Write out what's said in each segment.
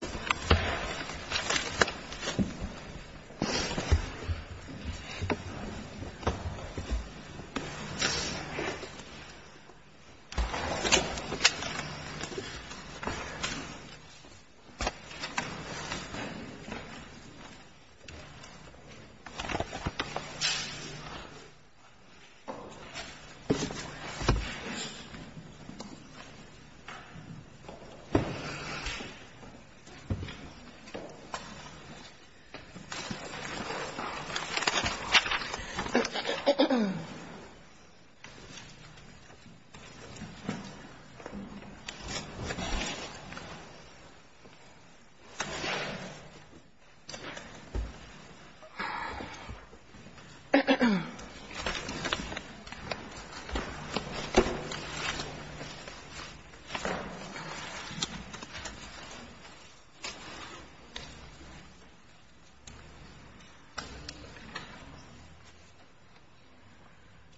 BANK OF SOUTHWEST BANK OF SOUTHWEST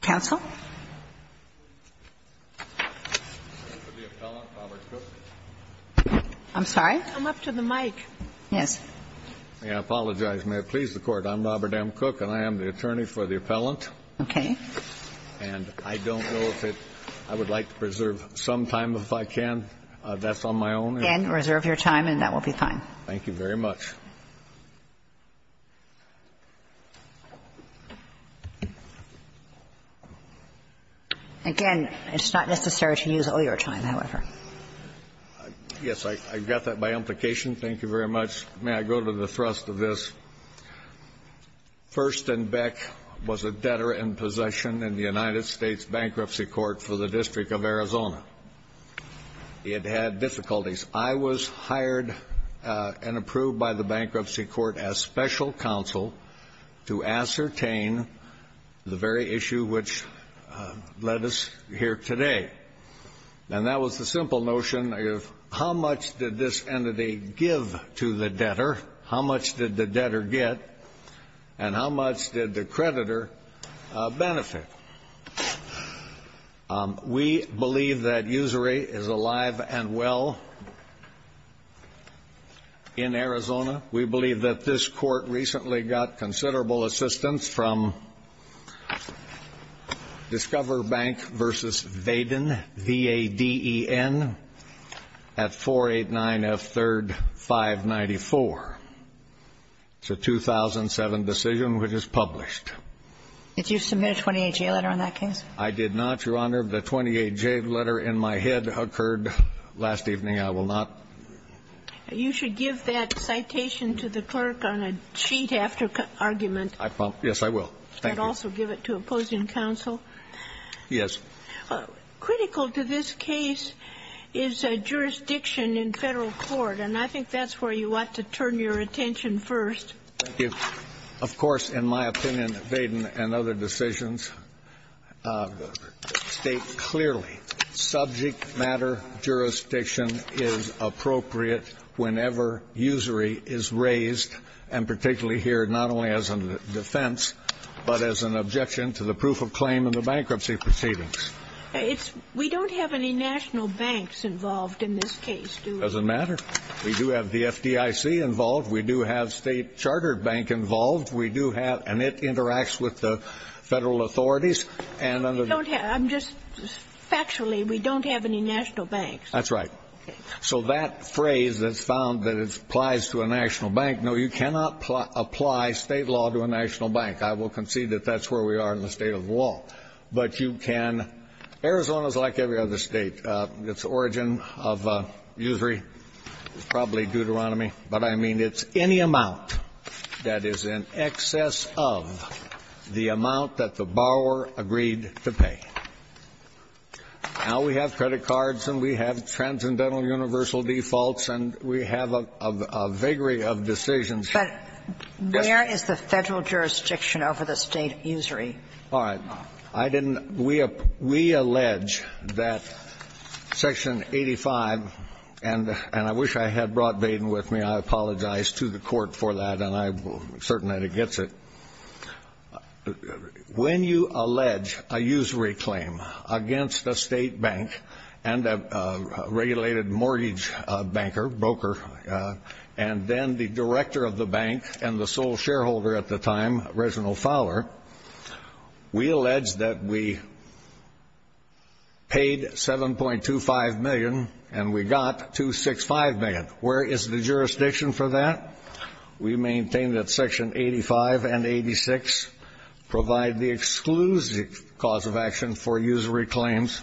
Counsel? I'm sorry? Come up to the mic. Yes? May I apologize? May it please the Court? I'm Robert M. Cook, and I am the attorney for the Appellant. Okay. And I don't know if it — I would like to preserve some time, if I can. That's on my own. Again, reserve your time, and that will be fine. Thank you very much. Again, it's not necessary to use all your time, however. Yes, I got that by implication. Thank you very much. May I go to the thrust of this? First and Beck was a debtor in possession in the United States Bankruptcy Court for the District of Arizona. It had difficulties. I was hired and approved by the Bankruptcy Court as special counsel to ascertain the very issue which led us here today. And that was the simple notion of how much did this entity give to the debtor, how much did the debtor get, and how much did the creditor benefit? We believe that Usury is alive and well in Arizona. We believe that this Court recently got considerable assistance from Discover Bank v. Vaden, V-A-D-E-N, at 489 F. 3rd 594. It's a 2007 decision which is published. Did you submit a 28-J letter on that case? I did not, Your Honor. The 28-J letter in my head occurred last evening. I will not. You should give that citation to the clerk on a sheet after argument. Yes, I will. Thank you. And also give it to opposing counsel. Yes. Critical to this case is jurisdiction in Federal court, and I think that's where you ought to turn your attention first. Thank you. Of course, in my opinion, Vaden and other decisions state clearly subject matter jurisdiction is appropriate whenever usury is raised, and particularly here not only as a defense, but as an objection to the proof of claim in the bankruptcy proceedings. We don't have any national banks involved in this case, do we? It doesn't matter. We do have the FDIC involved. We do have State Chartered Bank involved. We do have and it interacts with the Federal authorities. And under the You don't have, I'm just, factually, we don't have any national banks. That's right. So that phrase that's found that it applies to a national bank. No, you cannot apply State law to a national bank. I will concede that that's where we are in the State of the law. But you can, Arizona is like every other State. It's origin of usury is probably Deuteronomy, but I mean it's any amount that is in excess of the amount that the borrower agreed to pay. Now we have credit cards and we have transcendental universal defaults and we have a vigour of decisions. But where is the Federal jurisdiction over the State usury? All right. I didn't, we allege that Section 85 and I wish I had brought Baden with me. I apologize to the Court for that and I'm certain that it gets it. When you allege a usury claim against a State bank and a regulated mortgage banker, broker, and then the director of the bank and the sole shareholder at the time, Reginald Fowler, we allege that we paid 7.25 million and we got 265 million. Where is the jurisdiction for that? We maintain that Section 85 and 86 provide the exclusive cause of action for usury claims.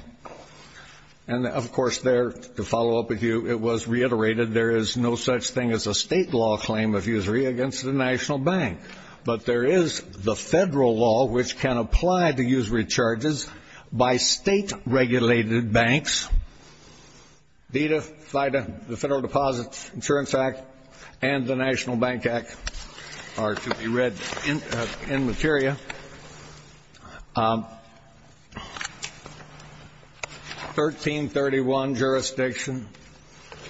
And of course there, to follow up with you, it was reiterated there is no such thing as a State law claim of usury against the national bank. But there is the Federal law which can apply to usury charges by State regulated banks. DEDA, FIDA, the Federal Deposit Insurance Act, and the National Bank Act are to be read in materia. 1331 jurisdiction,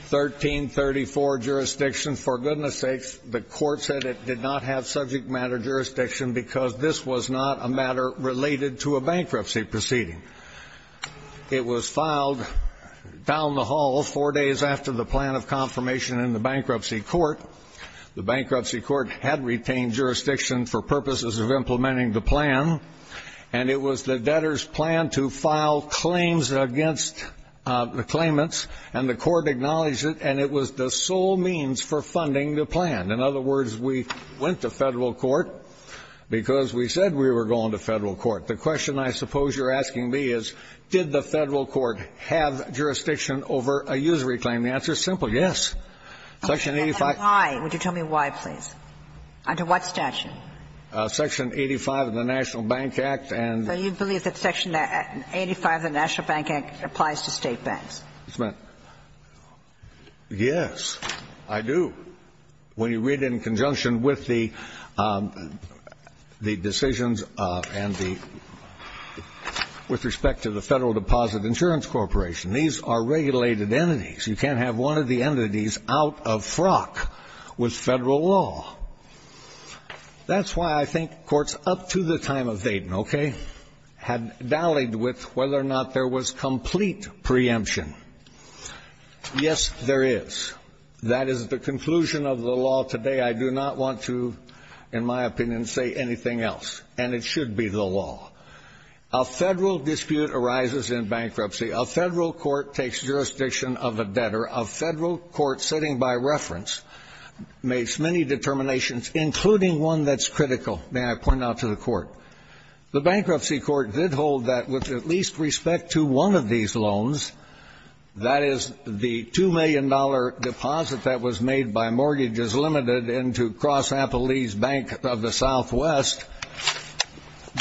1334 jurisdiction, for goodness sakes, the Court said it did not have subject matter jurisdiction because this was not a matter related to a bankruptcy proceeding. It was filed down the hall four days after the plan of confirmation in the Bankruptcy Court. The Bankruptcy Court had retained jurisdiction for purposes of implementing the plan. And it was the debtor's plan to file claims against the claimants. And the Court acknowledged it and it was the sole means for funding the plan. In other words, we went to Federal court because we said we were going to Federal court. The question I suppose you're asking me is did the Federal court have jurisdiction over a usury claim? The answer is simple, yes. Section 85. And why? Would you tell me why, please? Under what statute? Section 85 of the National Bank Act and. So you believe that Section 85 of the National Bank Act applies to State banks? Yes, I do. When you read in conjunction with the decisions and the with respect to the Federal Deposit Insurance Corporation, these are regulated entities. You can't have one of the entities out of frock with Federal law. That's why I think courts up to the time of Dayton, okay, had dallyed with whether or not there was complete preemption. Yes, there is. That is the conclusion of the law today. I do not want to, in my opinion, say anything else. And it should be the law. A Federal dispute arises in bankruptcy. A Federal court takes jurisdiction of a debtor. A Federal court sitting by reference makes many determinations, including one that's critical. May I point out to the court? The bankruptcy court did hold that, with at least respect to one of these loans, that is the $2 million deposit that was made by Mortgages Limited into Cross Appalachia Bank of the Southwest,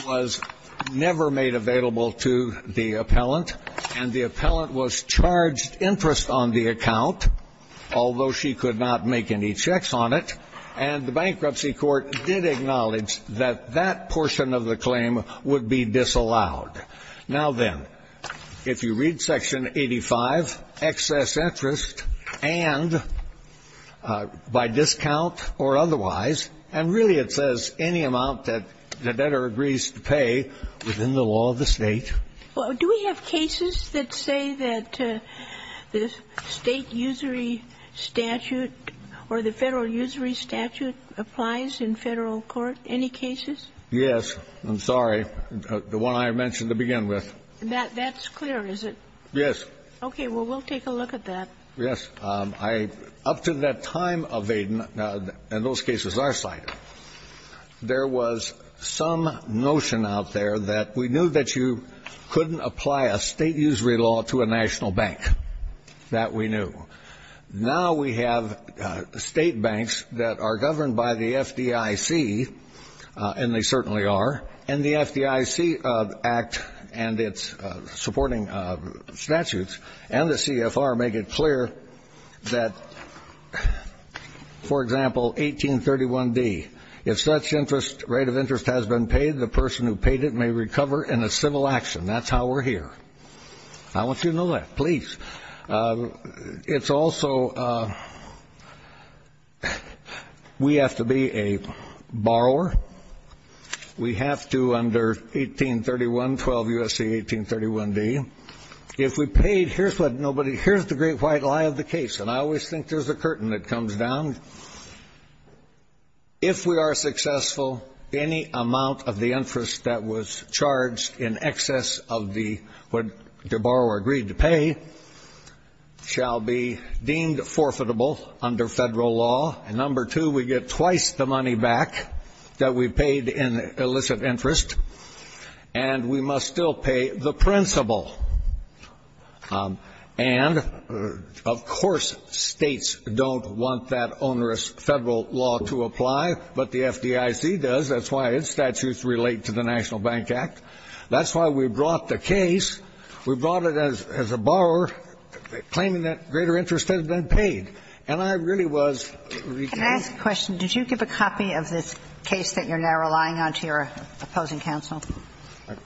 was never made available to the appellant. And the appellant was charged interest on the account, although she could not make any checks on it. And the bankruptcy court did acknowledge that that portion of the claim would be disallowed. Now then, if you read section 85, excess interest, and by discount or otherwise. And really it says any amount that the debtor agrees to pay within the law of the state. Well, do we have cases that say that the state usury statute or the Federal usury statute applies in Federal court, any cases? Yes, I'm sorry, the one I mentioned to begin with. That's clear, is it? Yes. Okay, well, we'll take a look at that. Yes, up to that time of Aiden, and those cases are cited. There was some notion out there that we knew that you couldn't apply a state usury law to a national bank. That we knew. Now we have state banks that are governed by the FDIC, and they certainly are. And the FDIC Act and its supporting statutes and the CFR make it clear that, for if such rate of interest has been paid, the person who paid it may recover in a civil action. That's how we're here. I want you to know that, please. It's also, we have to be a borrower. We have to, under 1831, 12 U.S.C. 1831d, if we paid, here's what nobody, here's the great white lie of the case, and I always think there's a curtain that comes down. If we are successful, any amount of the interest that was charged in excess of what the borrower agreed to pay, shall be deemed forfeitable under federal law. Number two, we get twice the money back that we paid in illicit interest. And we must still pay the principal. And, of course, states don't want that onerous federal law to apply, but the FDIC does. That's why its statutes relate to the National Bank Act. That's why we brought the case. We brought it as a borrower, claiming that greater interest had been paid. And I really was- Can I ask a question? Did you give a copy of this case that you're now relying on to your opposing counsel?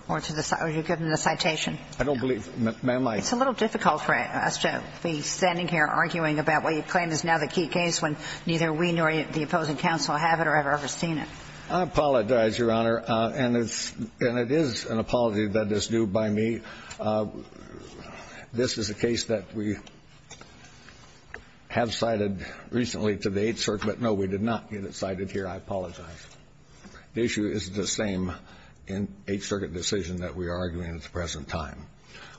Or were you given the citation? I don't believe, ma'am, I- It's a little difficult for us to be standing here arguing about what you claim is now the key case, when neither we nor the opposing counsel have it or have ever seen it. I apologize, Your Honor, and it is an apology that is due by me. This is a case that we have cited recently to the Eighth Circuit. No, we did not get it cited here, I apologize. The issue is the same in Eighth Circuit decision that we are arguing at the present time.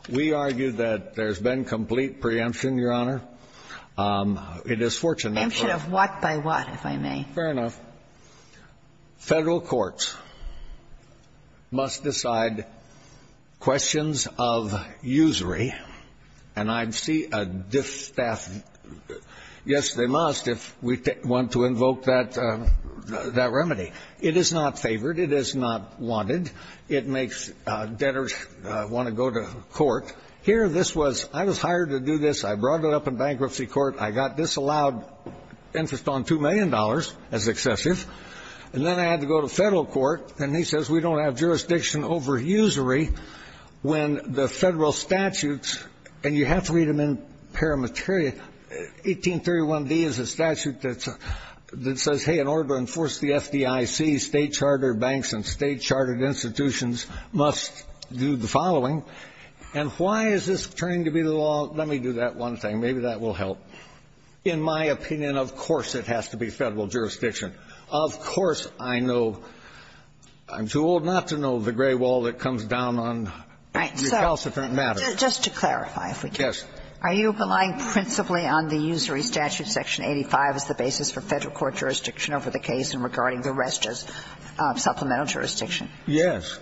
We argue that there's been complete preemption, Your Honor. It is fortunate- Preemption of what by what, if I may? Fair enough. Federal courts must decide questions of usury, and I see a dis-staffed- It is not favored. It is not wanted. It makes debtors want to go to court. Here, this was, I was hired to do this. I brought it up in bankruptcy court. I got disallowed interest on $2 million as excessive, and then I had to go to federal court, and he says we don't have jurisdiction over usury when the federal statutes, and you have to read them in paramateria. 1831d is a statute that says, hey, in order to enforce the FDIC, state chartered banks and state chartered institutions must do the following, and why is this turning to be the law, let me do that one thing, maybe that will help. In my opinion, of course, it has to be federal jurisdiction. Of course, I know, I'm too old not to know the gray wall that comes down on recalcitrant matters. Just to clarify, if we could. Yes. Are you relying principally on the usury statute, section 85, as the basis for federal court jurisdiction over the case and regarding the rest as supplemental jurisdiction? Yes.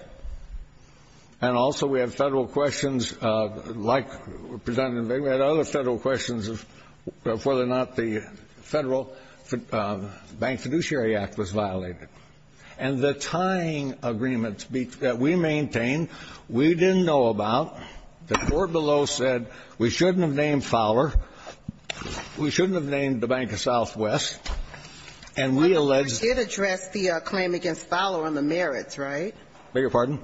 And also, we have federal questions, like President Vigna, we had other federal questions of whether or not the Federal Bank Fiduciary Act was violated. And the tying agreements that we maintain, we didn't know about. The court below said we shouldn't have named Fowler, we shouldn't have named the Bank of Southwest, and we alleged the claim against Fowler on the merits, right? I beg your pardon?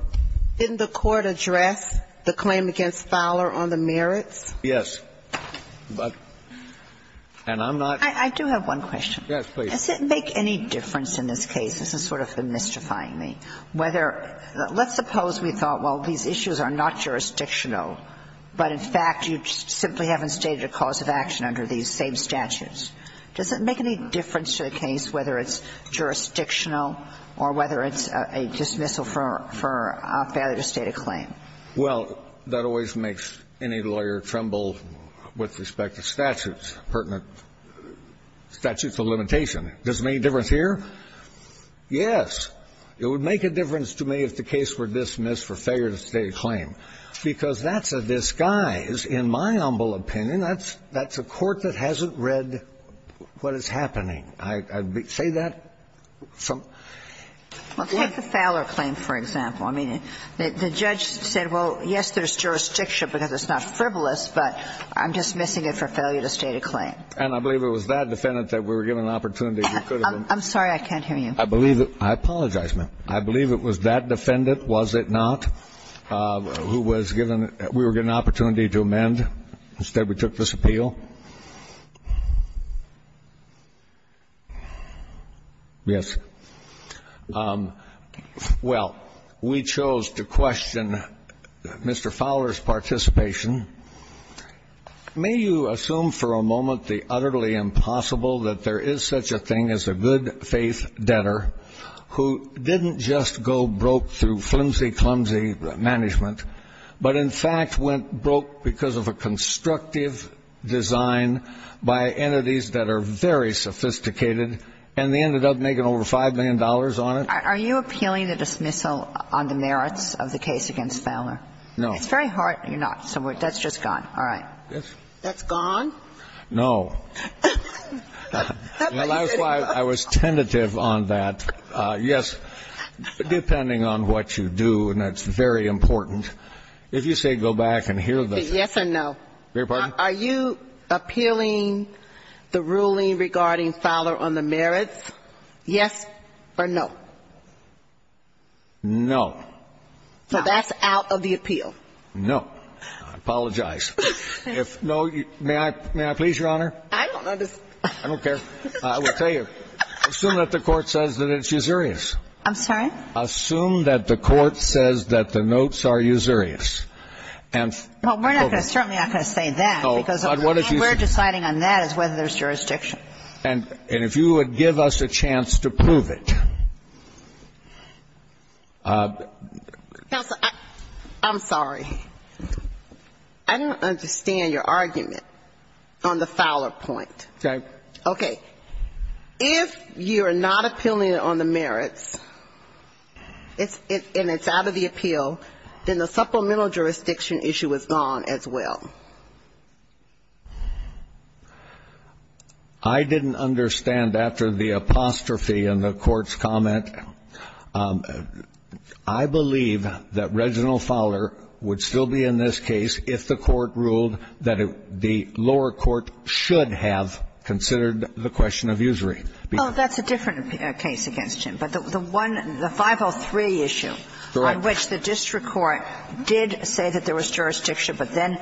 Didn't the court address the claim against Fowler on the merits? Yes. But, and I'm not. I do have one question. Yes, please. Does it make any difference in this case, this is sort of mystifying me, whether let's suppose we thought, well, these issues are not jurisdictional, but in fact, you simply haven't stated a cause of action under these same statutes. Does it make any difference to the case whether it's jurisdictional or whether it's a dismissal for a failure to state a claim? Well, that always makes any lawyer tremble with respect to statutes, pertinent statutes of limitation. Does it make a difference here? Yes. It would make a difference to me if the case were dismissed for failure to state a claim, because that's a disguise, in my humble opinion. That's a court that hasn't read what is happening. I'd say that from the court. Well, take the Fowler claim, for example. I mean, the judge said, well, yes, there's jurisdiction because it's not frivolous, but I'm dismissing it for failure to state a claim. And I believe it was that defendant that we were given an opportunity. I'm sorry, I can't hear you. I believe it was that defendant, was it not, who was given we were given an opportunity to amend. Instead, we took this appeal. Yes. Well, we chose to question Mr. Fowler's participation. May you assume for a moment the utterly impossible that there is such a thing as a good faith debtor who didn't just go broke through flimsy-clumsy management but, in fact, went broke because of a constructive design by entities that are very sophisticated and they ended up making over $5 million on it? Are you appealing the dismissal on the merits of the case against Fowler? No. It's very hard. You're not. So that's just gone. All right. That's gone? No. And that's why I was tentative on that. Yes, depending on what you do, and that's very important, if you say go back and hear the ---- Yes or no? Your pardon? Are you appealing the ruling regarding Fowler on the merits, yes or no? No. So that's out of the appeal? No. I apologize. If no, may I please, Your Honor? I don't understand. I don't care. I will tell you. Assume that the Court says that it's usurious. I'm sorry? Assume that the Court says that the notes are usurious. And ---- Well, we're not going to ---- Certainly not going to say that because ---- No. But what if you say ---- We're deciding on that as whether there's jurisdiction. And if you would give us a chance to prove it. Counsel, I'm sorry. I don't understand your argument on the Fowler point. Okay. Okay. If you're not appealing it on the merits, and it's out of the appeal, then the supplemental jurisdiction issue is gone as well. I didn't understand after the apostrophe in the Court's comment. I believe that Reginald Fowler would still be in this case if the Court ruled that the lower court should have considered the question of usury. Well, that's a different case against him. But the one ---- the 503 issue on which the district court did say that there was jurisdiction, but then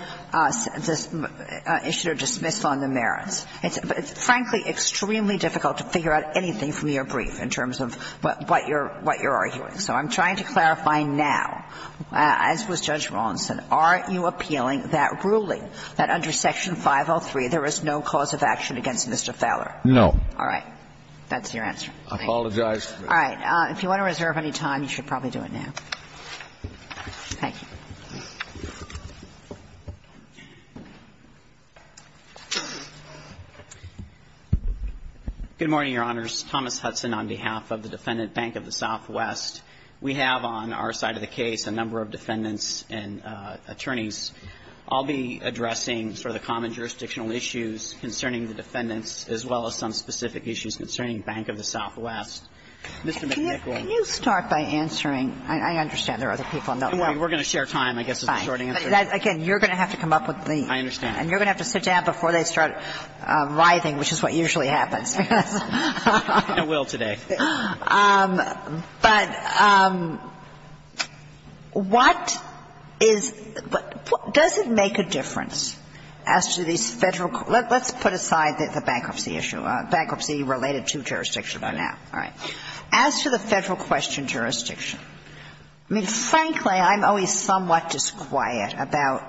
issued a dismissal on the merits. It's, frankly, extremely difficult to figure out anything from your brief in terms of what you're arguing. So I'm trying to clarify now, as was Judge Rawson, aren't you appealing that ruling that under Section 503 there is no cause of action against Mr. Fowler? No. All right. That's your answer. I apologize. All right. If you want to reserve any time, you should probably do it now. Thank you. Good morning, Your Honors. Thomas Hudson on behalf of the Defendant Bank of the Southwest. We have on our side of the case a number of defendants and attorneys. I'll be addressing sort of the common jurisdictional issues concerning the defendants as well as some specific issues concerning Bank of the Southwest. Mr. McNichol. Can you start by answering? I understand there are other people. We're going to share time, I guess, as a short answer. Again, you're going to have to come up with the answer. I understand. And you're going to have to sit down before they start writhing, which is what usually happens. I will today. But what is the – does it make a difference as to these Federal – let's put aside the bankruptcy issue, bankruptcy related to jurisdiction for now. All right. As to the Federal question, jurisdiction, I mean, frankly, I'm always somewhat disquiet about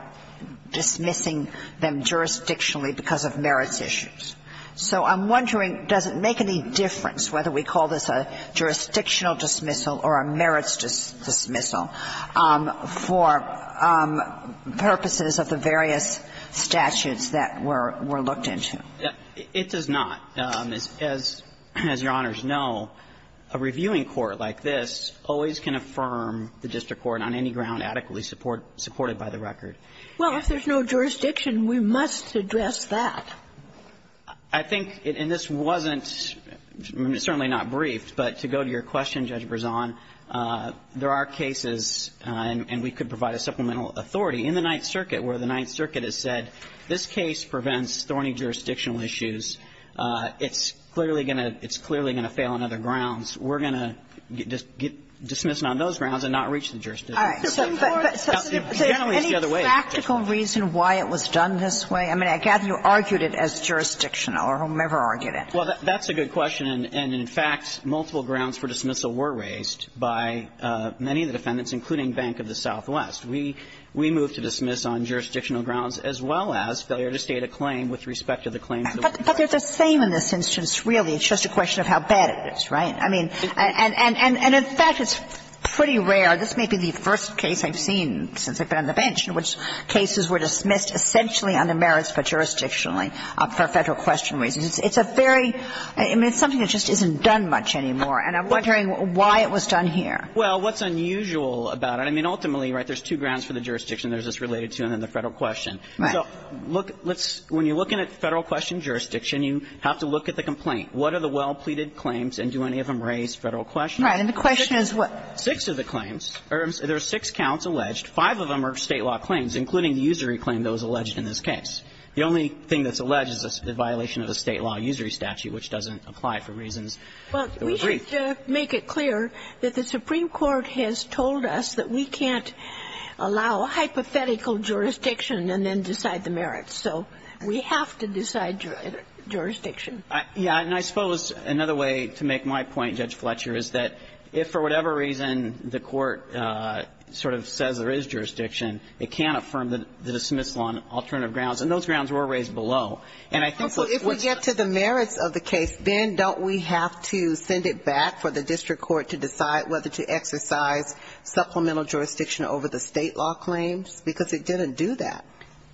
dismissing them jurisdictionally because of merits issues. So I'm wondering, does it make any difference whether we call this a jurisdictional dismissal or a merits dismissal for purposes of the various statutes that were – were looked into? It does not. As – as Your Honors know, a reviewing court like this always can affirm the district court on any ground adequately support – supported by the record. Well, if there's no jurisdiction, we must address that. I think – and this wasn't – certainly not briefed, but to go to your question, Judge Brezon, there are cases, and we could provide a supplemental authority in the Ninth Circuit, where the Ninth Circuit has said this case prevents thorny jurisdictional issues. It's clearly going to – it's clearly going to fail on other grounds. We're going to dismiss it on those grounds and not reach the jurisdiction. All right. So any practical reason why it was done this way? I mean, I gather you argued it as jurisdictional, or whomever argued it. Well, that's a good question. And in fact, multiple grounds for dismissal were raised by many of the defendants, including Bank of the Southwest. We moved to dismiss on jurisdictional grounds as well as failure to state a claim with respect to the claims that were denied. But they're the same in this instance, really. It's just a question of how bad it is, right? I mean – and in fact, it's pretty rare. This may be the first case I've seen since I've been on the bench in which cases were dismissed essentially under merits for jurisdictionally, for Federal question reasons. It's a very – I mean, it's something that just isn't done much anymore. And I'm wondering why it was done here. Well, what's unusual about it? I mean, ultimately, right, there's two grounds for the jurisdiction. There's this related to and then the Federal question. Right. So look – let's – when you're looking at Federal question jurisdiction, you have to look at the complaint. What are the well-pleaded claims and do any of them raise Federal question? Right. And the question is what? Six of the claims. There are six counts alleged. Five of them are State law claims, including the usury claim that was alleged in this case. The only thing that's alleged is the violation of a State law usury statute, which doesn't apply for reasons that we've agreed. Well, we should make it clear that the Supreme Court has told us that we can't allow hypothetical jurisdiction and then decide the merits. So we have to decide jurisdiction. Yeah. And I suppose another way to make my point, Judge Fletcher, is that if for whatever reason the court sort of says there is jurisdiction, it can't affirm the dismissal on alternative grounds. And those grounds were raised below. And I think what's – Well, if we get to the merits of the case, then don't we have to send it back for the district court to decide whether to exercise supplemental jurisdiction over the State law claims? Because it didn't do that.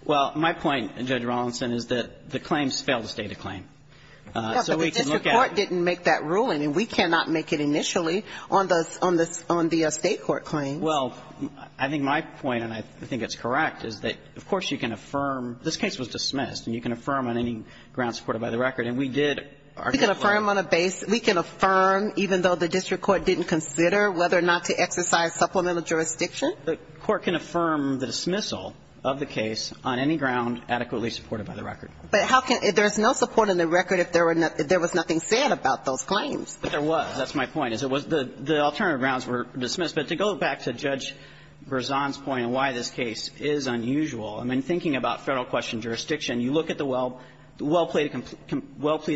Well, my point, Judge Rawlinson, is that the claims fail to stay the claim. So we can look at – Yeah, but the district court didn't make that ruling. And we cannot make it initially on the State court claims. Well, I think my point, and I think it's correct, is that, of course, you can affirm – this case was dismissed, and you can affirm on any grounds supported by the record. And we did our – We can affirm on a – we can affirm even though the district court didn't consider whether or not to exercise supplemental jurisdiction? The court can affirm the dismissal of the case on any ground adequately supported by the record. But how can – there's no support in the record if there were – if there was nothing said about those claims. But there was. That's my point, is it was – the alternative grounds were dismissed. But to go back to Judge Berzon's point on why this case is unusual, I mean, thinking about Federal question jurisdiction, you look at the well-pleaded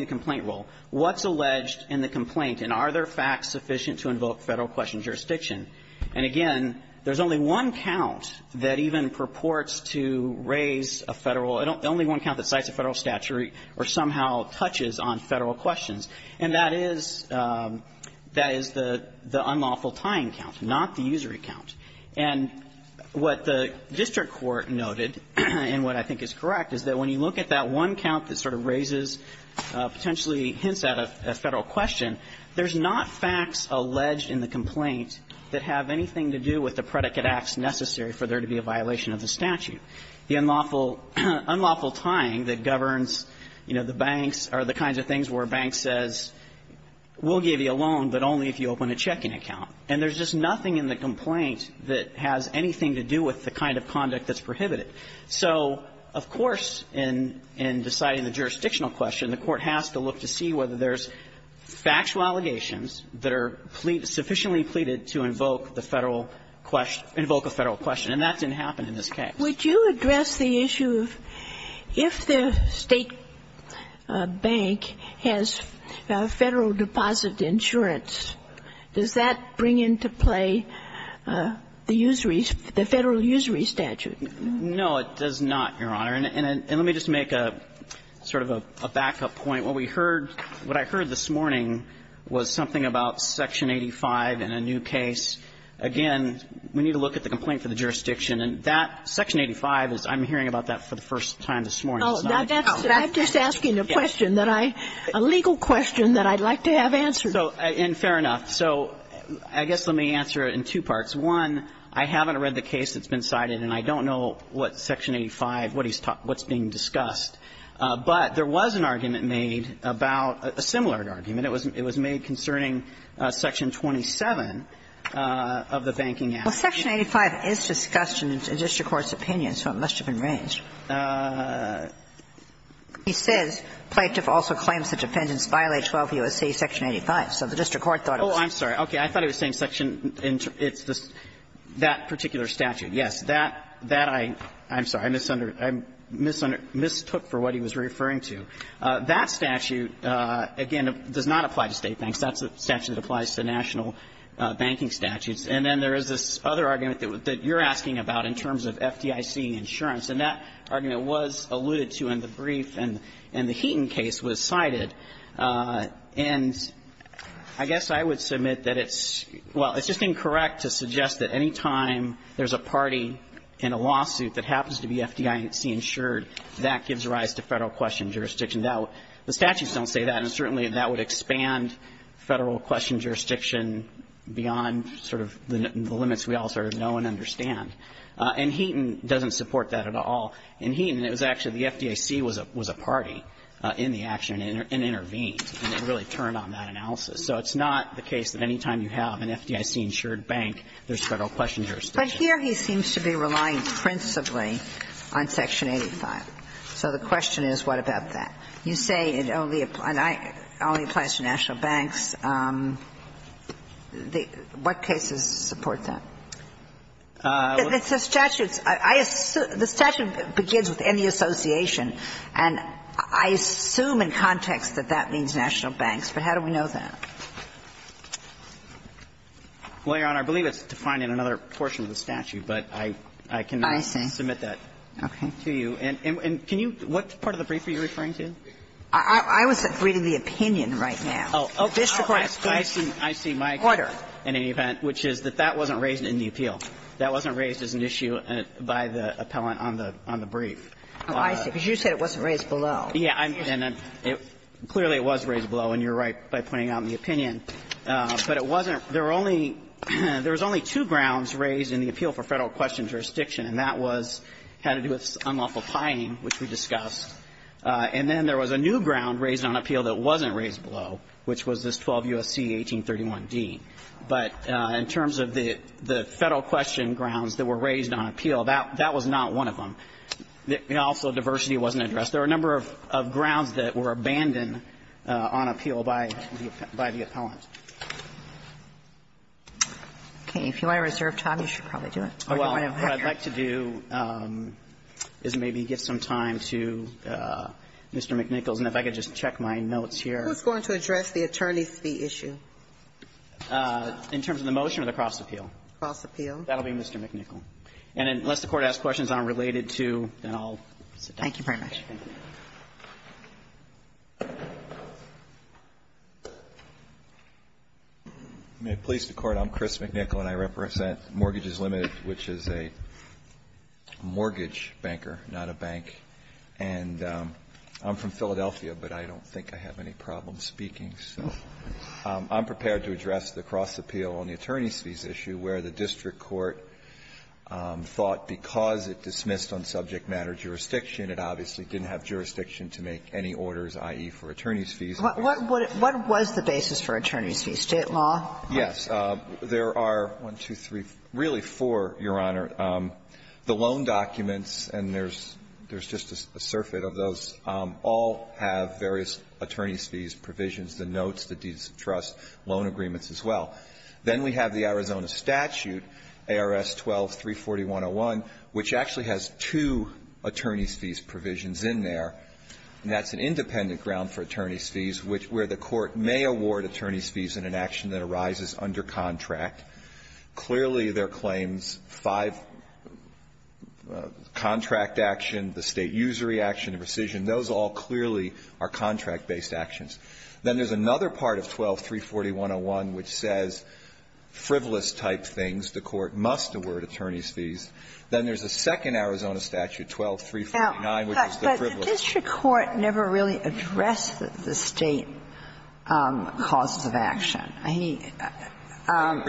complaint rule, what's alleged in the complaint, and are there facts sufficient to invoke Federal question jurisdiction? And again, there's only one count that even purports to raise a Federal – only one count that cites a Federal statute or somehow touches on Federal questions. And that is – that is the unlawful tying count, not the usury count. And what the district court noted, and what I think is correct, is that when you look at that one count that sort of raises potentially hints at a Federal question, there's not facts alleged in the complaint that have anything to do with the predicate acts necessary for there to be a violation of the statute. The unlawful – unlawful tying that governs, you know, the banks are the kinds of things where a bank says, we'll give you a loan, but only if you open a checking account. And there's just nothing in the complaint that has anything to do with the kind of conduct that's prohibited. So, of course, in – in deciding the jurisdictional question, the Court has to look to see whether there's factual allegations that are sufficiently pleaded to invoke the Federal question – invoke a Federal question. And that didn't happen in this case. Would you address the issue of if the State bank has Federal deposit insurance, does that bring into play the usury – the Federal usury statute? No, it does not, Your Honor. And let me just make a sort of a backup point. What we heard – what I heard this morning was something about Section 85 and a new case. Again, we need to look at the complaint for the jurisdiction. And that – Section 85 is – I'm hearing about that for the first time this morning. It's not a new case. Oh, that's – I'm just asking a question that I – a legal question that I'd like to have answered. So – and fair enough. So I guess let me answer it in two parts. One, I haven't read the case that's been cited, and I don't know what Section 85 – what he's – what's being discussed. But there was an argument made about – a similar argument. It was – it was made concerning Section 27 of the Banking Act. Well, Section 85 is discussed in the district court's opinion, so it must have been raised. He says, "...plaintiff also claims the defendants violate 12 U.S.C. Section 85." So the district court thought it was – Oh, I'm sorry. Okay. I thought he was saying Section – it's the – that particular statute. Yes. That – that I – I'm sorry. I misunder – I mistook for what he was referring to. That statute, again, does not apply to state banks. That's a statute that applies to national banking statutes. And then there is this other argument that you're asking about in terms of FDIC insurance. And that argument was alluded to in the brief, and the Heaton case was cited. And I guess I would submit that it's – well, it's just incorrect to suggest that any time there's a party in a lawsuit that happens to be FDIC-insured, that gives rise to Federal Question Jurisdiction. Now, the statutes don't say that, and certainly that would expand Federal Question Jurisdiction beyond sort of the limits we all sort of know and understand. And Heaton doesn't support that at all. In Heaton, it was actually the FDIC was a party in the action and intervened, and it really turned on that analysis. So it's not the case that any time you have an FDIC-insured bank, there's Federal Question Jurisdiction. But here he seems to be relying principally on Section 85. So the question is, what about that? You say it only applies to national banks. What cases support that? The statute begins with any association, and I assume in context that that means national banks, but how do we know that? Well, Your Honor, I believe it's defined in another portion of the statute, but I cannot submit that to you. And can you – what part of the brief are you referring to? I was reading the opinion right now. Oh, I see my point in any event, which is that that wasn't raised in the appeal. That wasn't raised as an issue by the appellant on the brief. Oh, I see, because you said it wasn't raised below. Yeah, and clearly it was raised below, and you're right by pointing out in the opinion. But it wasn't – there were only – there was only two grounds raised in the appeal for Federal Question Jurisdiction, and that was – had to do with unlawful pining, which we discussed. And then there was a new ground raised on appeal that wasn't raised below, which was this 12 U.S.C. 1831d. But in terms of the Federal Question grounds that were raised on appeal, that was not one of them. Also, diversity wasn't addressed. There were a number of grounds that were abandoned on appeal by the appellant. Okay. If you want to reserve time, you should probably do it. Oh, well, what I'd like to do is maybe give some time to Mr. McNichols, and if I could just check my notes here. Who's going to address the attorney's fee issue? In terms of the motion or the cross-appeal? Cross-appeal. That'll be Mr. McNichols. And unless the Court asks questions unrelated to – then I'll sit down. Thank you very much. Thank you. May it please the Court, I'm Chris McNichol, and I represent Mortgages Limited, which is a mortgage banker, not a bank. And I'm from Philadelphia, but I don't think I have any problem speaking. So I'm prepared to address the cross-appeal on the attorney's fees issue, where the district court thought because it dismissed on subject matter jurisdiction it obviously didn't have jurisdiction to make any orders, i.e., for attorney's fees. What was the basis for attorney's fees? State law? Yes. There are one, two, three, really four, Your Honor. The loan documents, and there's just a surfeit of those, all have various attorney's fees provisions, the notes, the deeds of trust, loan agreements as well. Then we have the Arizona statute, ARS 12-34101, which actually has two attorney's fees provisions in there, and that's an independent ground for attorney's fees where the court may award attorney's fees in an action that arises under contract. Clearly, there are claims, five, contract action, the state usury action, the rescission, those all clearly are contract-based actions. Then there's another part of ARS 12-34101 which says frivolous-type things, the court must award attorney's fees. Then there's a second Arizona statute, ARS 12-349, which is the frivolous-type thing. Now, but the district court never really addressed the state causes of action. I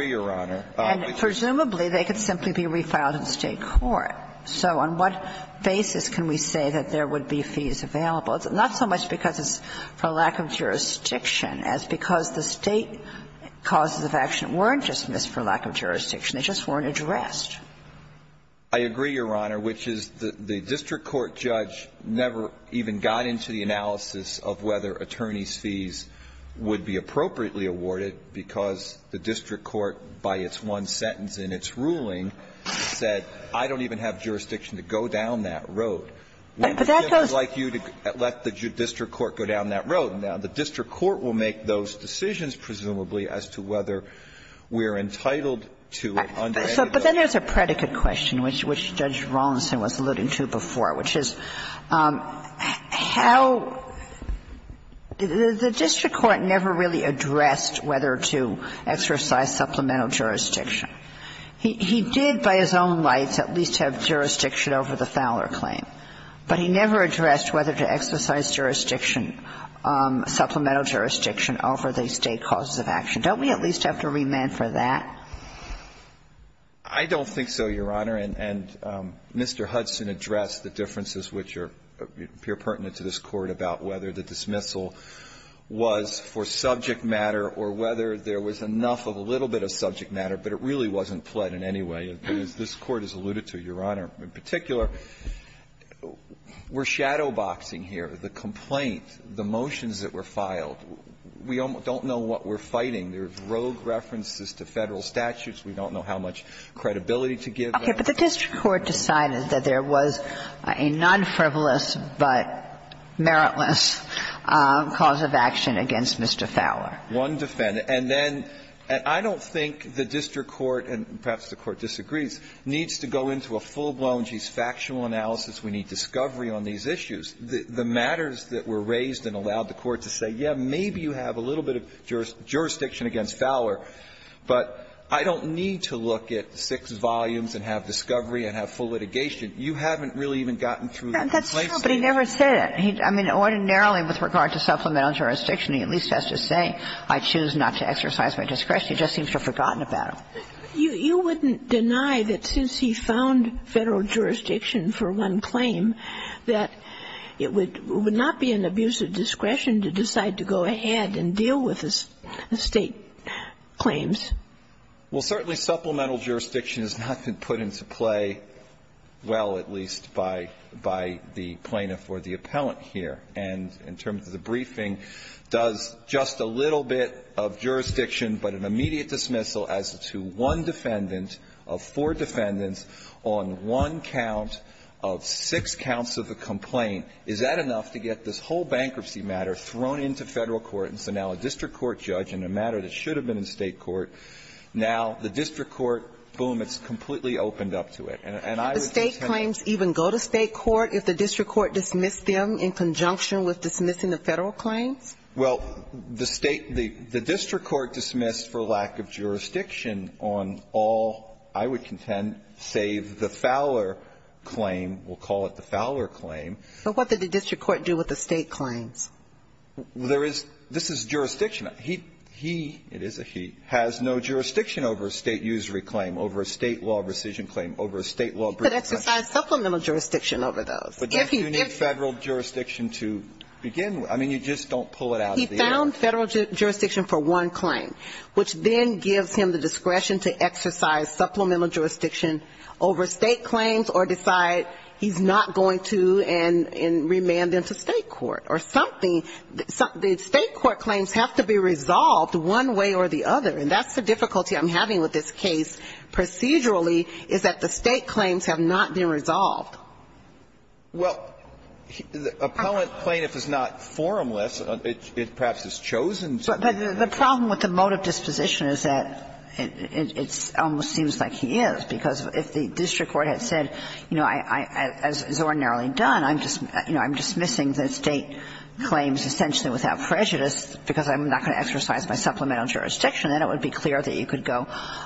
mean, presumably, they could simply be refiled in state court. So on what basis can we say that there would be fees available? It's not so much because it's for lack of jurisdiction as because the state causes of action weren't just missed for lack of jurisdiction. They just weren't addressed. I agree, Your Honor, which is the district court judge never even got into the analysis of whether attorney's fees would be appropriately awarded because the district court, by its one sentence in its ruling, said, I don't even have jurisdiction to go down that road. We would like you to let the district court go down that road. Now, the district court will make those decisions, presumably, as to whether we're entitled to it under any of those. But then there's a predicate question, which Judge Rawlinson was alluding to before, which is how the district court never really addressed whether to exercise supplemental jurisdiction. He did, by his own rights, at least have jurisdiction over the Fowler claim, but he never addressed whether to exercise jurisdiction, supplemental jurisdiction over the state causes of action. Don't we at least have to remand for that? I don't think so, Your Honor. And Mr. Hudson addressed the differences which appear pertinent to this Court about whether the dismissal was for subject matter or whether there was enough of a little bit of subject matter, but it really wasn't pled in any way. This Court has alluded to, Your Honor, in particular, we're shadow boxing here. The complaint, the motions that were filed, we don't know what we're fighting. There are rogue references to Federal statutes. We don't know how much credibility to give them. Okay. But the district court decided that there was a non-frivolous but meritless cause of action against Mr. Fowler. One defendant. And then I don't think the district court, and perhaps the court disagrees, needs to go into a full-blown, geez, factual analysis, we need discovery on these issues. The matters that were raised and allowed the court to say, yes, maybe you have a little bit of jurisdiction against Fowler, but I don't need to look at six volumes and have discovery and have full litigation. You haven't really even gotten through the complaint statement. That's true, but he never said it. I mean, ordinarily, with regard to supplemental jurisdiction, he at least has to say, I choose not to exercise my discretion. He just seems to have forgotten about it. You wouldn't deny that since he found Federal jurisdiction for one claim, that it would not be an abuse of discretion to decide to go ahead and deal with the State claims. Well, certainly supplemental jurisdiction has not been put into play well, at least by the plaintiff or the appellant here. And in terms of the briefing, does just a little bit of jurisdiction, but an immediate dismissal as to one defendant of four defendants on one count of six counts of the complaint. Is that enough to get this whole bankruptcy matter thrown into Federal court? And so now a district court judge in a matter that should have been in State court, now the district court, boom, it's completely opened up to it. And I would contend that the State claims even go to State court if the district court dismissed them in conjunction with dismissing the Federal claims? Well, the State the district court dismissed for lack of jurisdiction on all, I would contend, save the Fowler claim. We'll call it the Fowler claim. But what did the district court do with the State claims? There is this is jurisdiction. He, it is a he, has no jurisdiction over a State usury claim, over a State law rescission claim, over a State law brief. He could exercise supplemental jurisdiction over those. But don't you need Federal jurisdiction to begin with? I mean, you just don't pull it out of the air. He found Federal jurisdiction for one claim, which then gives him the discretion to exercise supplemental jurisdiction over State claims or decide he's not going to and remand them to State court or something. The State court claims have to be resolved one way or the other. And that's the difficulty I'm having with this case procedurally, is that the State claims have not been resolved. Well, the appellant plaintiff is not formless. It perhaps is chosen. But the problem with the motive disposition is that it almost seems like he is, because if the district court had said, you know, as is ordinarily done, I'm just, you know, I'm dismissing the State claims essentially without prejudice because I'm not going to exercise my supplemental jurisdiction, then it would be clear that you could go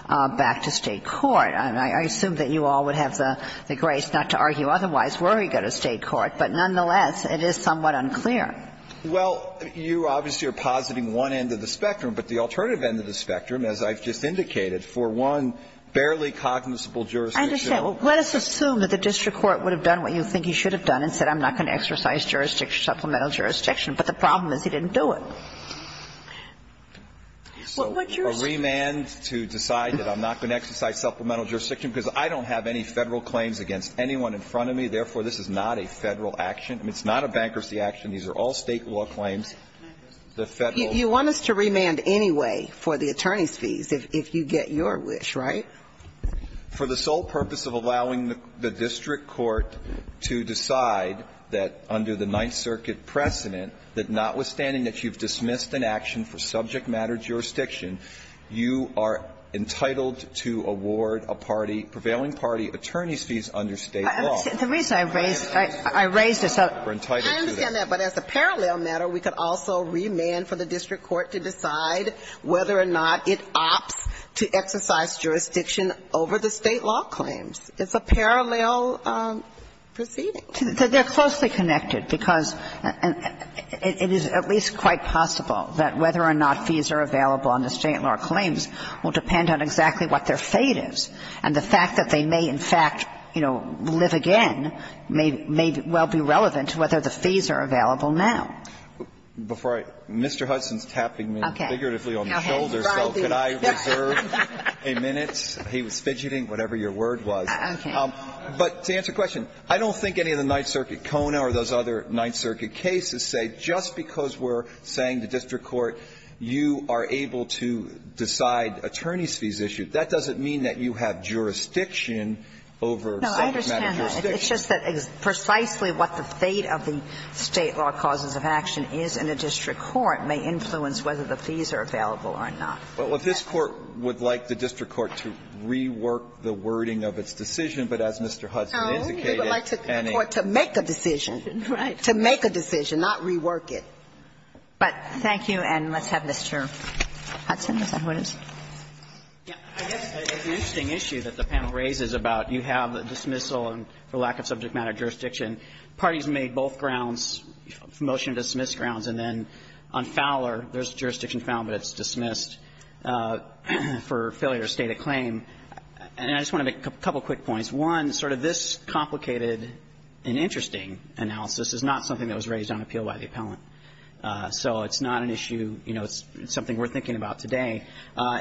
back to State court. And I assume that you all would have the grace not to argue otherwise were he to go to State court, but nonetheless, it is somewhat unclear. Well, you obviously are positing one end of the spectrum, but the alternative end of the spectrum, as I've just indicated, for one barely cognizable jurisdiction of the district court. I understand. Well, let us assume that the district court would have done what you think he should have done and said, I'm not going to exercise jurisdiction, supplemental jurisdiction, but the problem is he didn't do it. So a remand to decide that I'm not going to exercise supplemental jurisdiction because I don't have any Federal claims against anyone in front of me, therefore, this is not a Federal action. I mean, it's not a bankruptcy action. These are all State law claims. You want us to remand anyway for the attorney's fees if you get your wish, right? For the sole purpose of allowing the district court to decide that under the Ninth Circuit precedent, that notwithstanding that you've dismissed an action for subject matter jurisdiction, you are entitled to award a party, prevailing party, attorney's fees under State law. I understand that, but as a parallel matter, we could also remand for the district court to decide whether or not it opts to exercise jurisdiction over the State law claims. It's a parallel proceeding. They're closely connected because it is at least quite possible that whether or not fees are available under State law claims will depend on exactly what their case is, and in fact, you know, live again may well be relevant to whether the fees are available now. Before I go, Mr. Hudson's tapping me figuratively on the shoulder, so could I reserve a minute? He was fidgeting, whatever your word was. But to answer your question, I don't think any of the Ninth Circuit CONA or those other Ninth Circuit cases say just because we're saying to district court, you are able to decide attorney's fees issue, that doesn't mean that you have jurisdiction over subject matter jurisdiction. No, I understand that. It's just that precisely what the fate of the State law causes of action is in a district court may influence whether the fees are available or not. Well, if this Court would like the district court to rework the wording of its decision, but as Mr. Hudson indicated, and any other case. No, they would like the court to make a decision. Right. To make a decision, not rework it. But thank you, and let's have Mr. Hudson with that. I guess it's an interesting issue that the panel raises about you have a dismissal and for lack of subject matter jurisdiction, parties made both grounds, motion to dismiss grounds, and then on Fowler, there's jurisdiction found, but it's dismissed for failure to state a claim. And I just want to make a couple quick points. One, sort of this complicated and interesting analysis is not something that was raised on appeal by the appellant. So it's not an issue, you know, it's something we're thinking about today.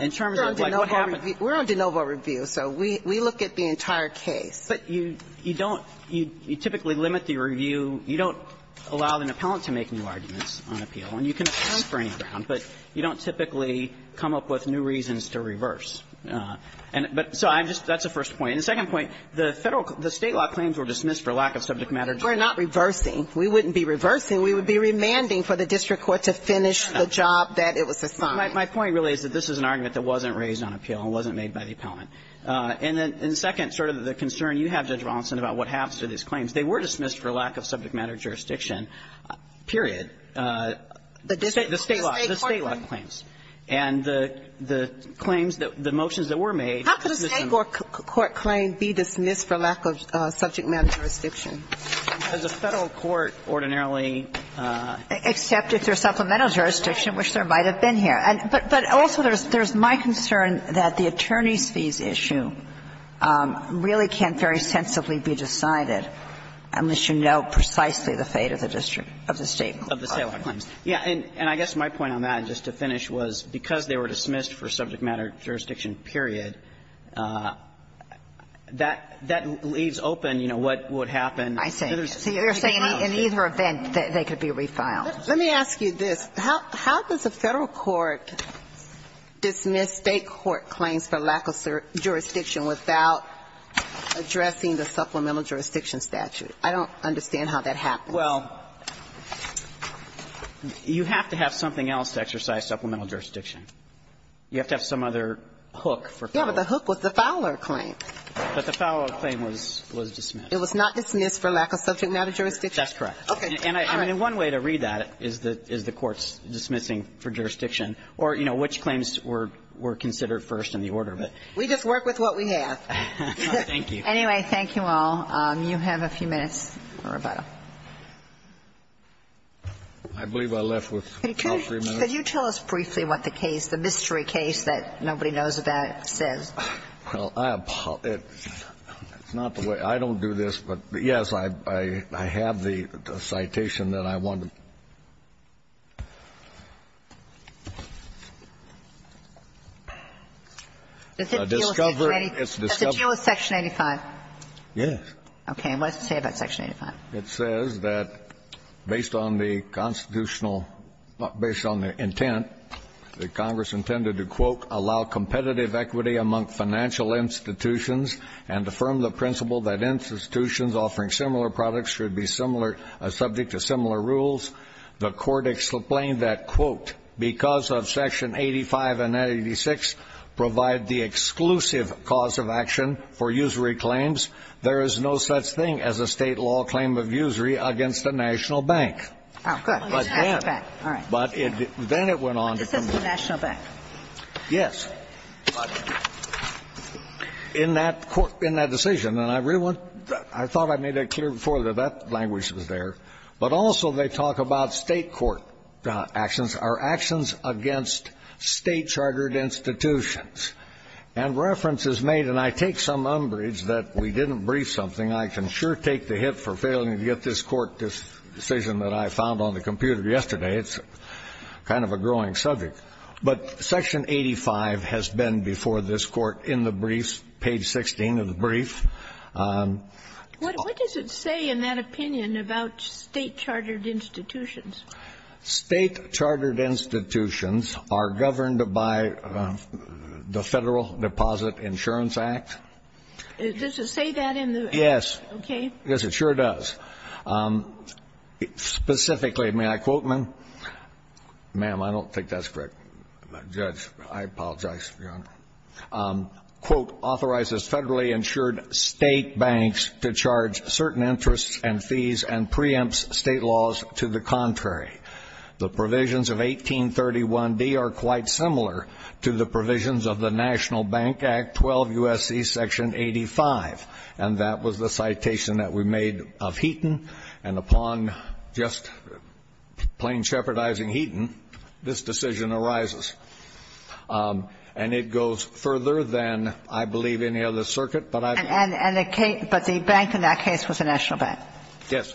In terms of, like, what happened We're on de novo review, so we look at the entire case. But you don't, you typically limit the review, you don't allow an appellant to make new arguments on appeal, and you can have a spring round, but you don't typically come up with new reasons to reverse. But so I'm just, that's the first point. And the second point, the Federal, the State law claims were dismissed for lack of subject matter jurisdiction. We're not reversing. We wouldn't be reversing. We would be remanding for the district court to finish the job that it was assigned. My point really is that this is an argument that wasn't raised on appeal and wasn't made by the appellant. And then, second, sort of the concern you have, Judge Rawlinson, about what happens to these claims. They were dismissed for lack of subject matter jurisdiction, period. The State law. The State law claims. And the claims that, the motions that were made. How could a State court claim be dismissed for lack of subject matter jurisdiction? Does a Federal court ordinarily Accept it through supplemental jurisdiction, which there might have been here. But also, there's my concern that the attorneys' fees issue really can't very sensibly be decided unless you know precisely the fate of the district, of the State court. Of the State law claims. Yeah. And I guess my point on that, just to finish, was because they were dismissed for subject matter jurisdiction, period, that leaves open, you know, what would happen. I see. So you're saying in either event, they could be refiled. Let me ask you this. How does a Federal court dismiss State court claims for lack of jurisdiction without addressing the supplemental jurisdiction statute? I don't understand how that happens. Well, you have to have something else to exercise supplemental jurisdiction. You have to have some other hook for Federal. Yeah, but the hook was the Fowler claim. But the Fowler claim was dismissed. It was not dismissed for lack of subject matter jurisdiction? That's correct. Okay. And I mean, one way to read that is the court's dismissing for jurisdiction or, you know, which claims were considered first in the order of it. We just work with what we have. Thank you. Anyway, thank you all. You have a few minutes, Roberto. I believe I left with about three minutes. Could you tell us briefly what the case, the mystery case that nobody knows about says? Well, I apologize. It's not the way to do this, but, yes, I have the citation that I wanted. Does it deal with Section 85? Yes. Okay. And what does it say about Section 85? It says that based on the constitutional or based on the intent, that Congress intended to, quote, allow competitive equity among financial institutions and affirm the principle that institutions offering similar products should be similar or subject to similar rules, the Court explained that, quote, because of Section 85 and 86 provide the exclusive cause of action for usury claims, there is no such thing as a State law claim of usury against a national bank. Oh, good. But then it went on to the National Bank. Yes. In that court ñ in that decision, and I really want ñ I thought I made that clear before that that language was there, but also they talk about State court actions are actions against State-chartered institutions. And reference is made, and I take some umbrage that we didn't brief something. I can sure take the hit for failing to get this Court decision that I found on the computer yesterday. It's kind of a growing subject. But Section 85 has been before this Court in the briefs, page 16 of the brief. What does it say in that opinion about State-chartered institutions? State-chartered institutions are governed by the Federal Deposit Insurance Act. Does it say that in the ñ Yes. Okay. Yes, it sure does. Specifically, may I quote, ma'am? Ma'am, I don't think that's correct. Judge, I apologize for your honor. Quote, authorizes federally insured State banks to charge certain interests and fees and preempts State laws to the contrary. The provisions of 1831D are quite similar to the provisions of the National Bank Act 12 U.S.C. Section 85. And that was the citation that we made of Heaton. And upon just plain shepherdizing Heaton, this decision arises. And it goes further than, I believe, any other circuit. But I've ñ And the case ñ but the bank in that case was the National Bank. Yes.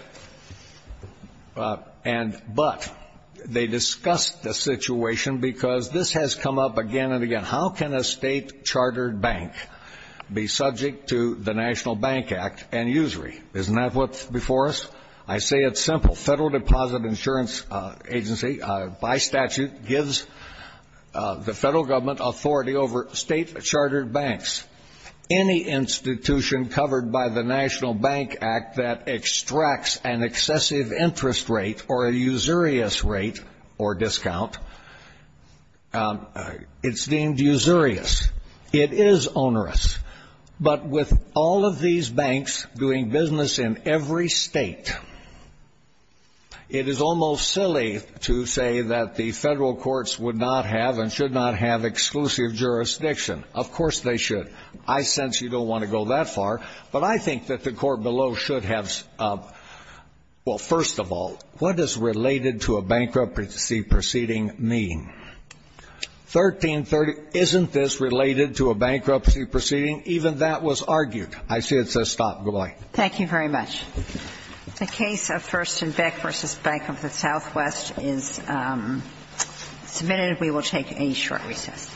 And ñ but they discussed the situation because this has come up again and again. How can a State chartered bank be subject to the National Bank Act and usury? Isn't that what's before us? I say it's simple. Federal Deposit Insurance Agency, by statute, gives the Federal Government authority over State chartered banks. Any institution covered by the National Bank Act that extracts an excessive interest rate or a usurious rate or discount, it's deemed usurious. It is onerous. But with all of these banks doing business in every State, it is almost silly to say that the Federal courts would not have and should not have exclusive jurisdiction. Of course they should. I sense you don't want to go that far. But I think that the court below should have ñ well, first of all, what does related to a bankruptcy proceeding mean? 1330, isn't this related to a bankruptcy proceeding? Even that was argued. I see it says stop. Good-bye. Thank you very much. The case of First and Beck v. Bank of the Southwest is submitted. We will take a short recess.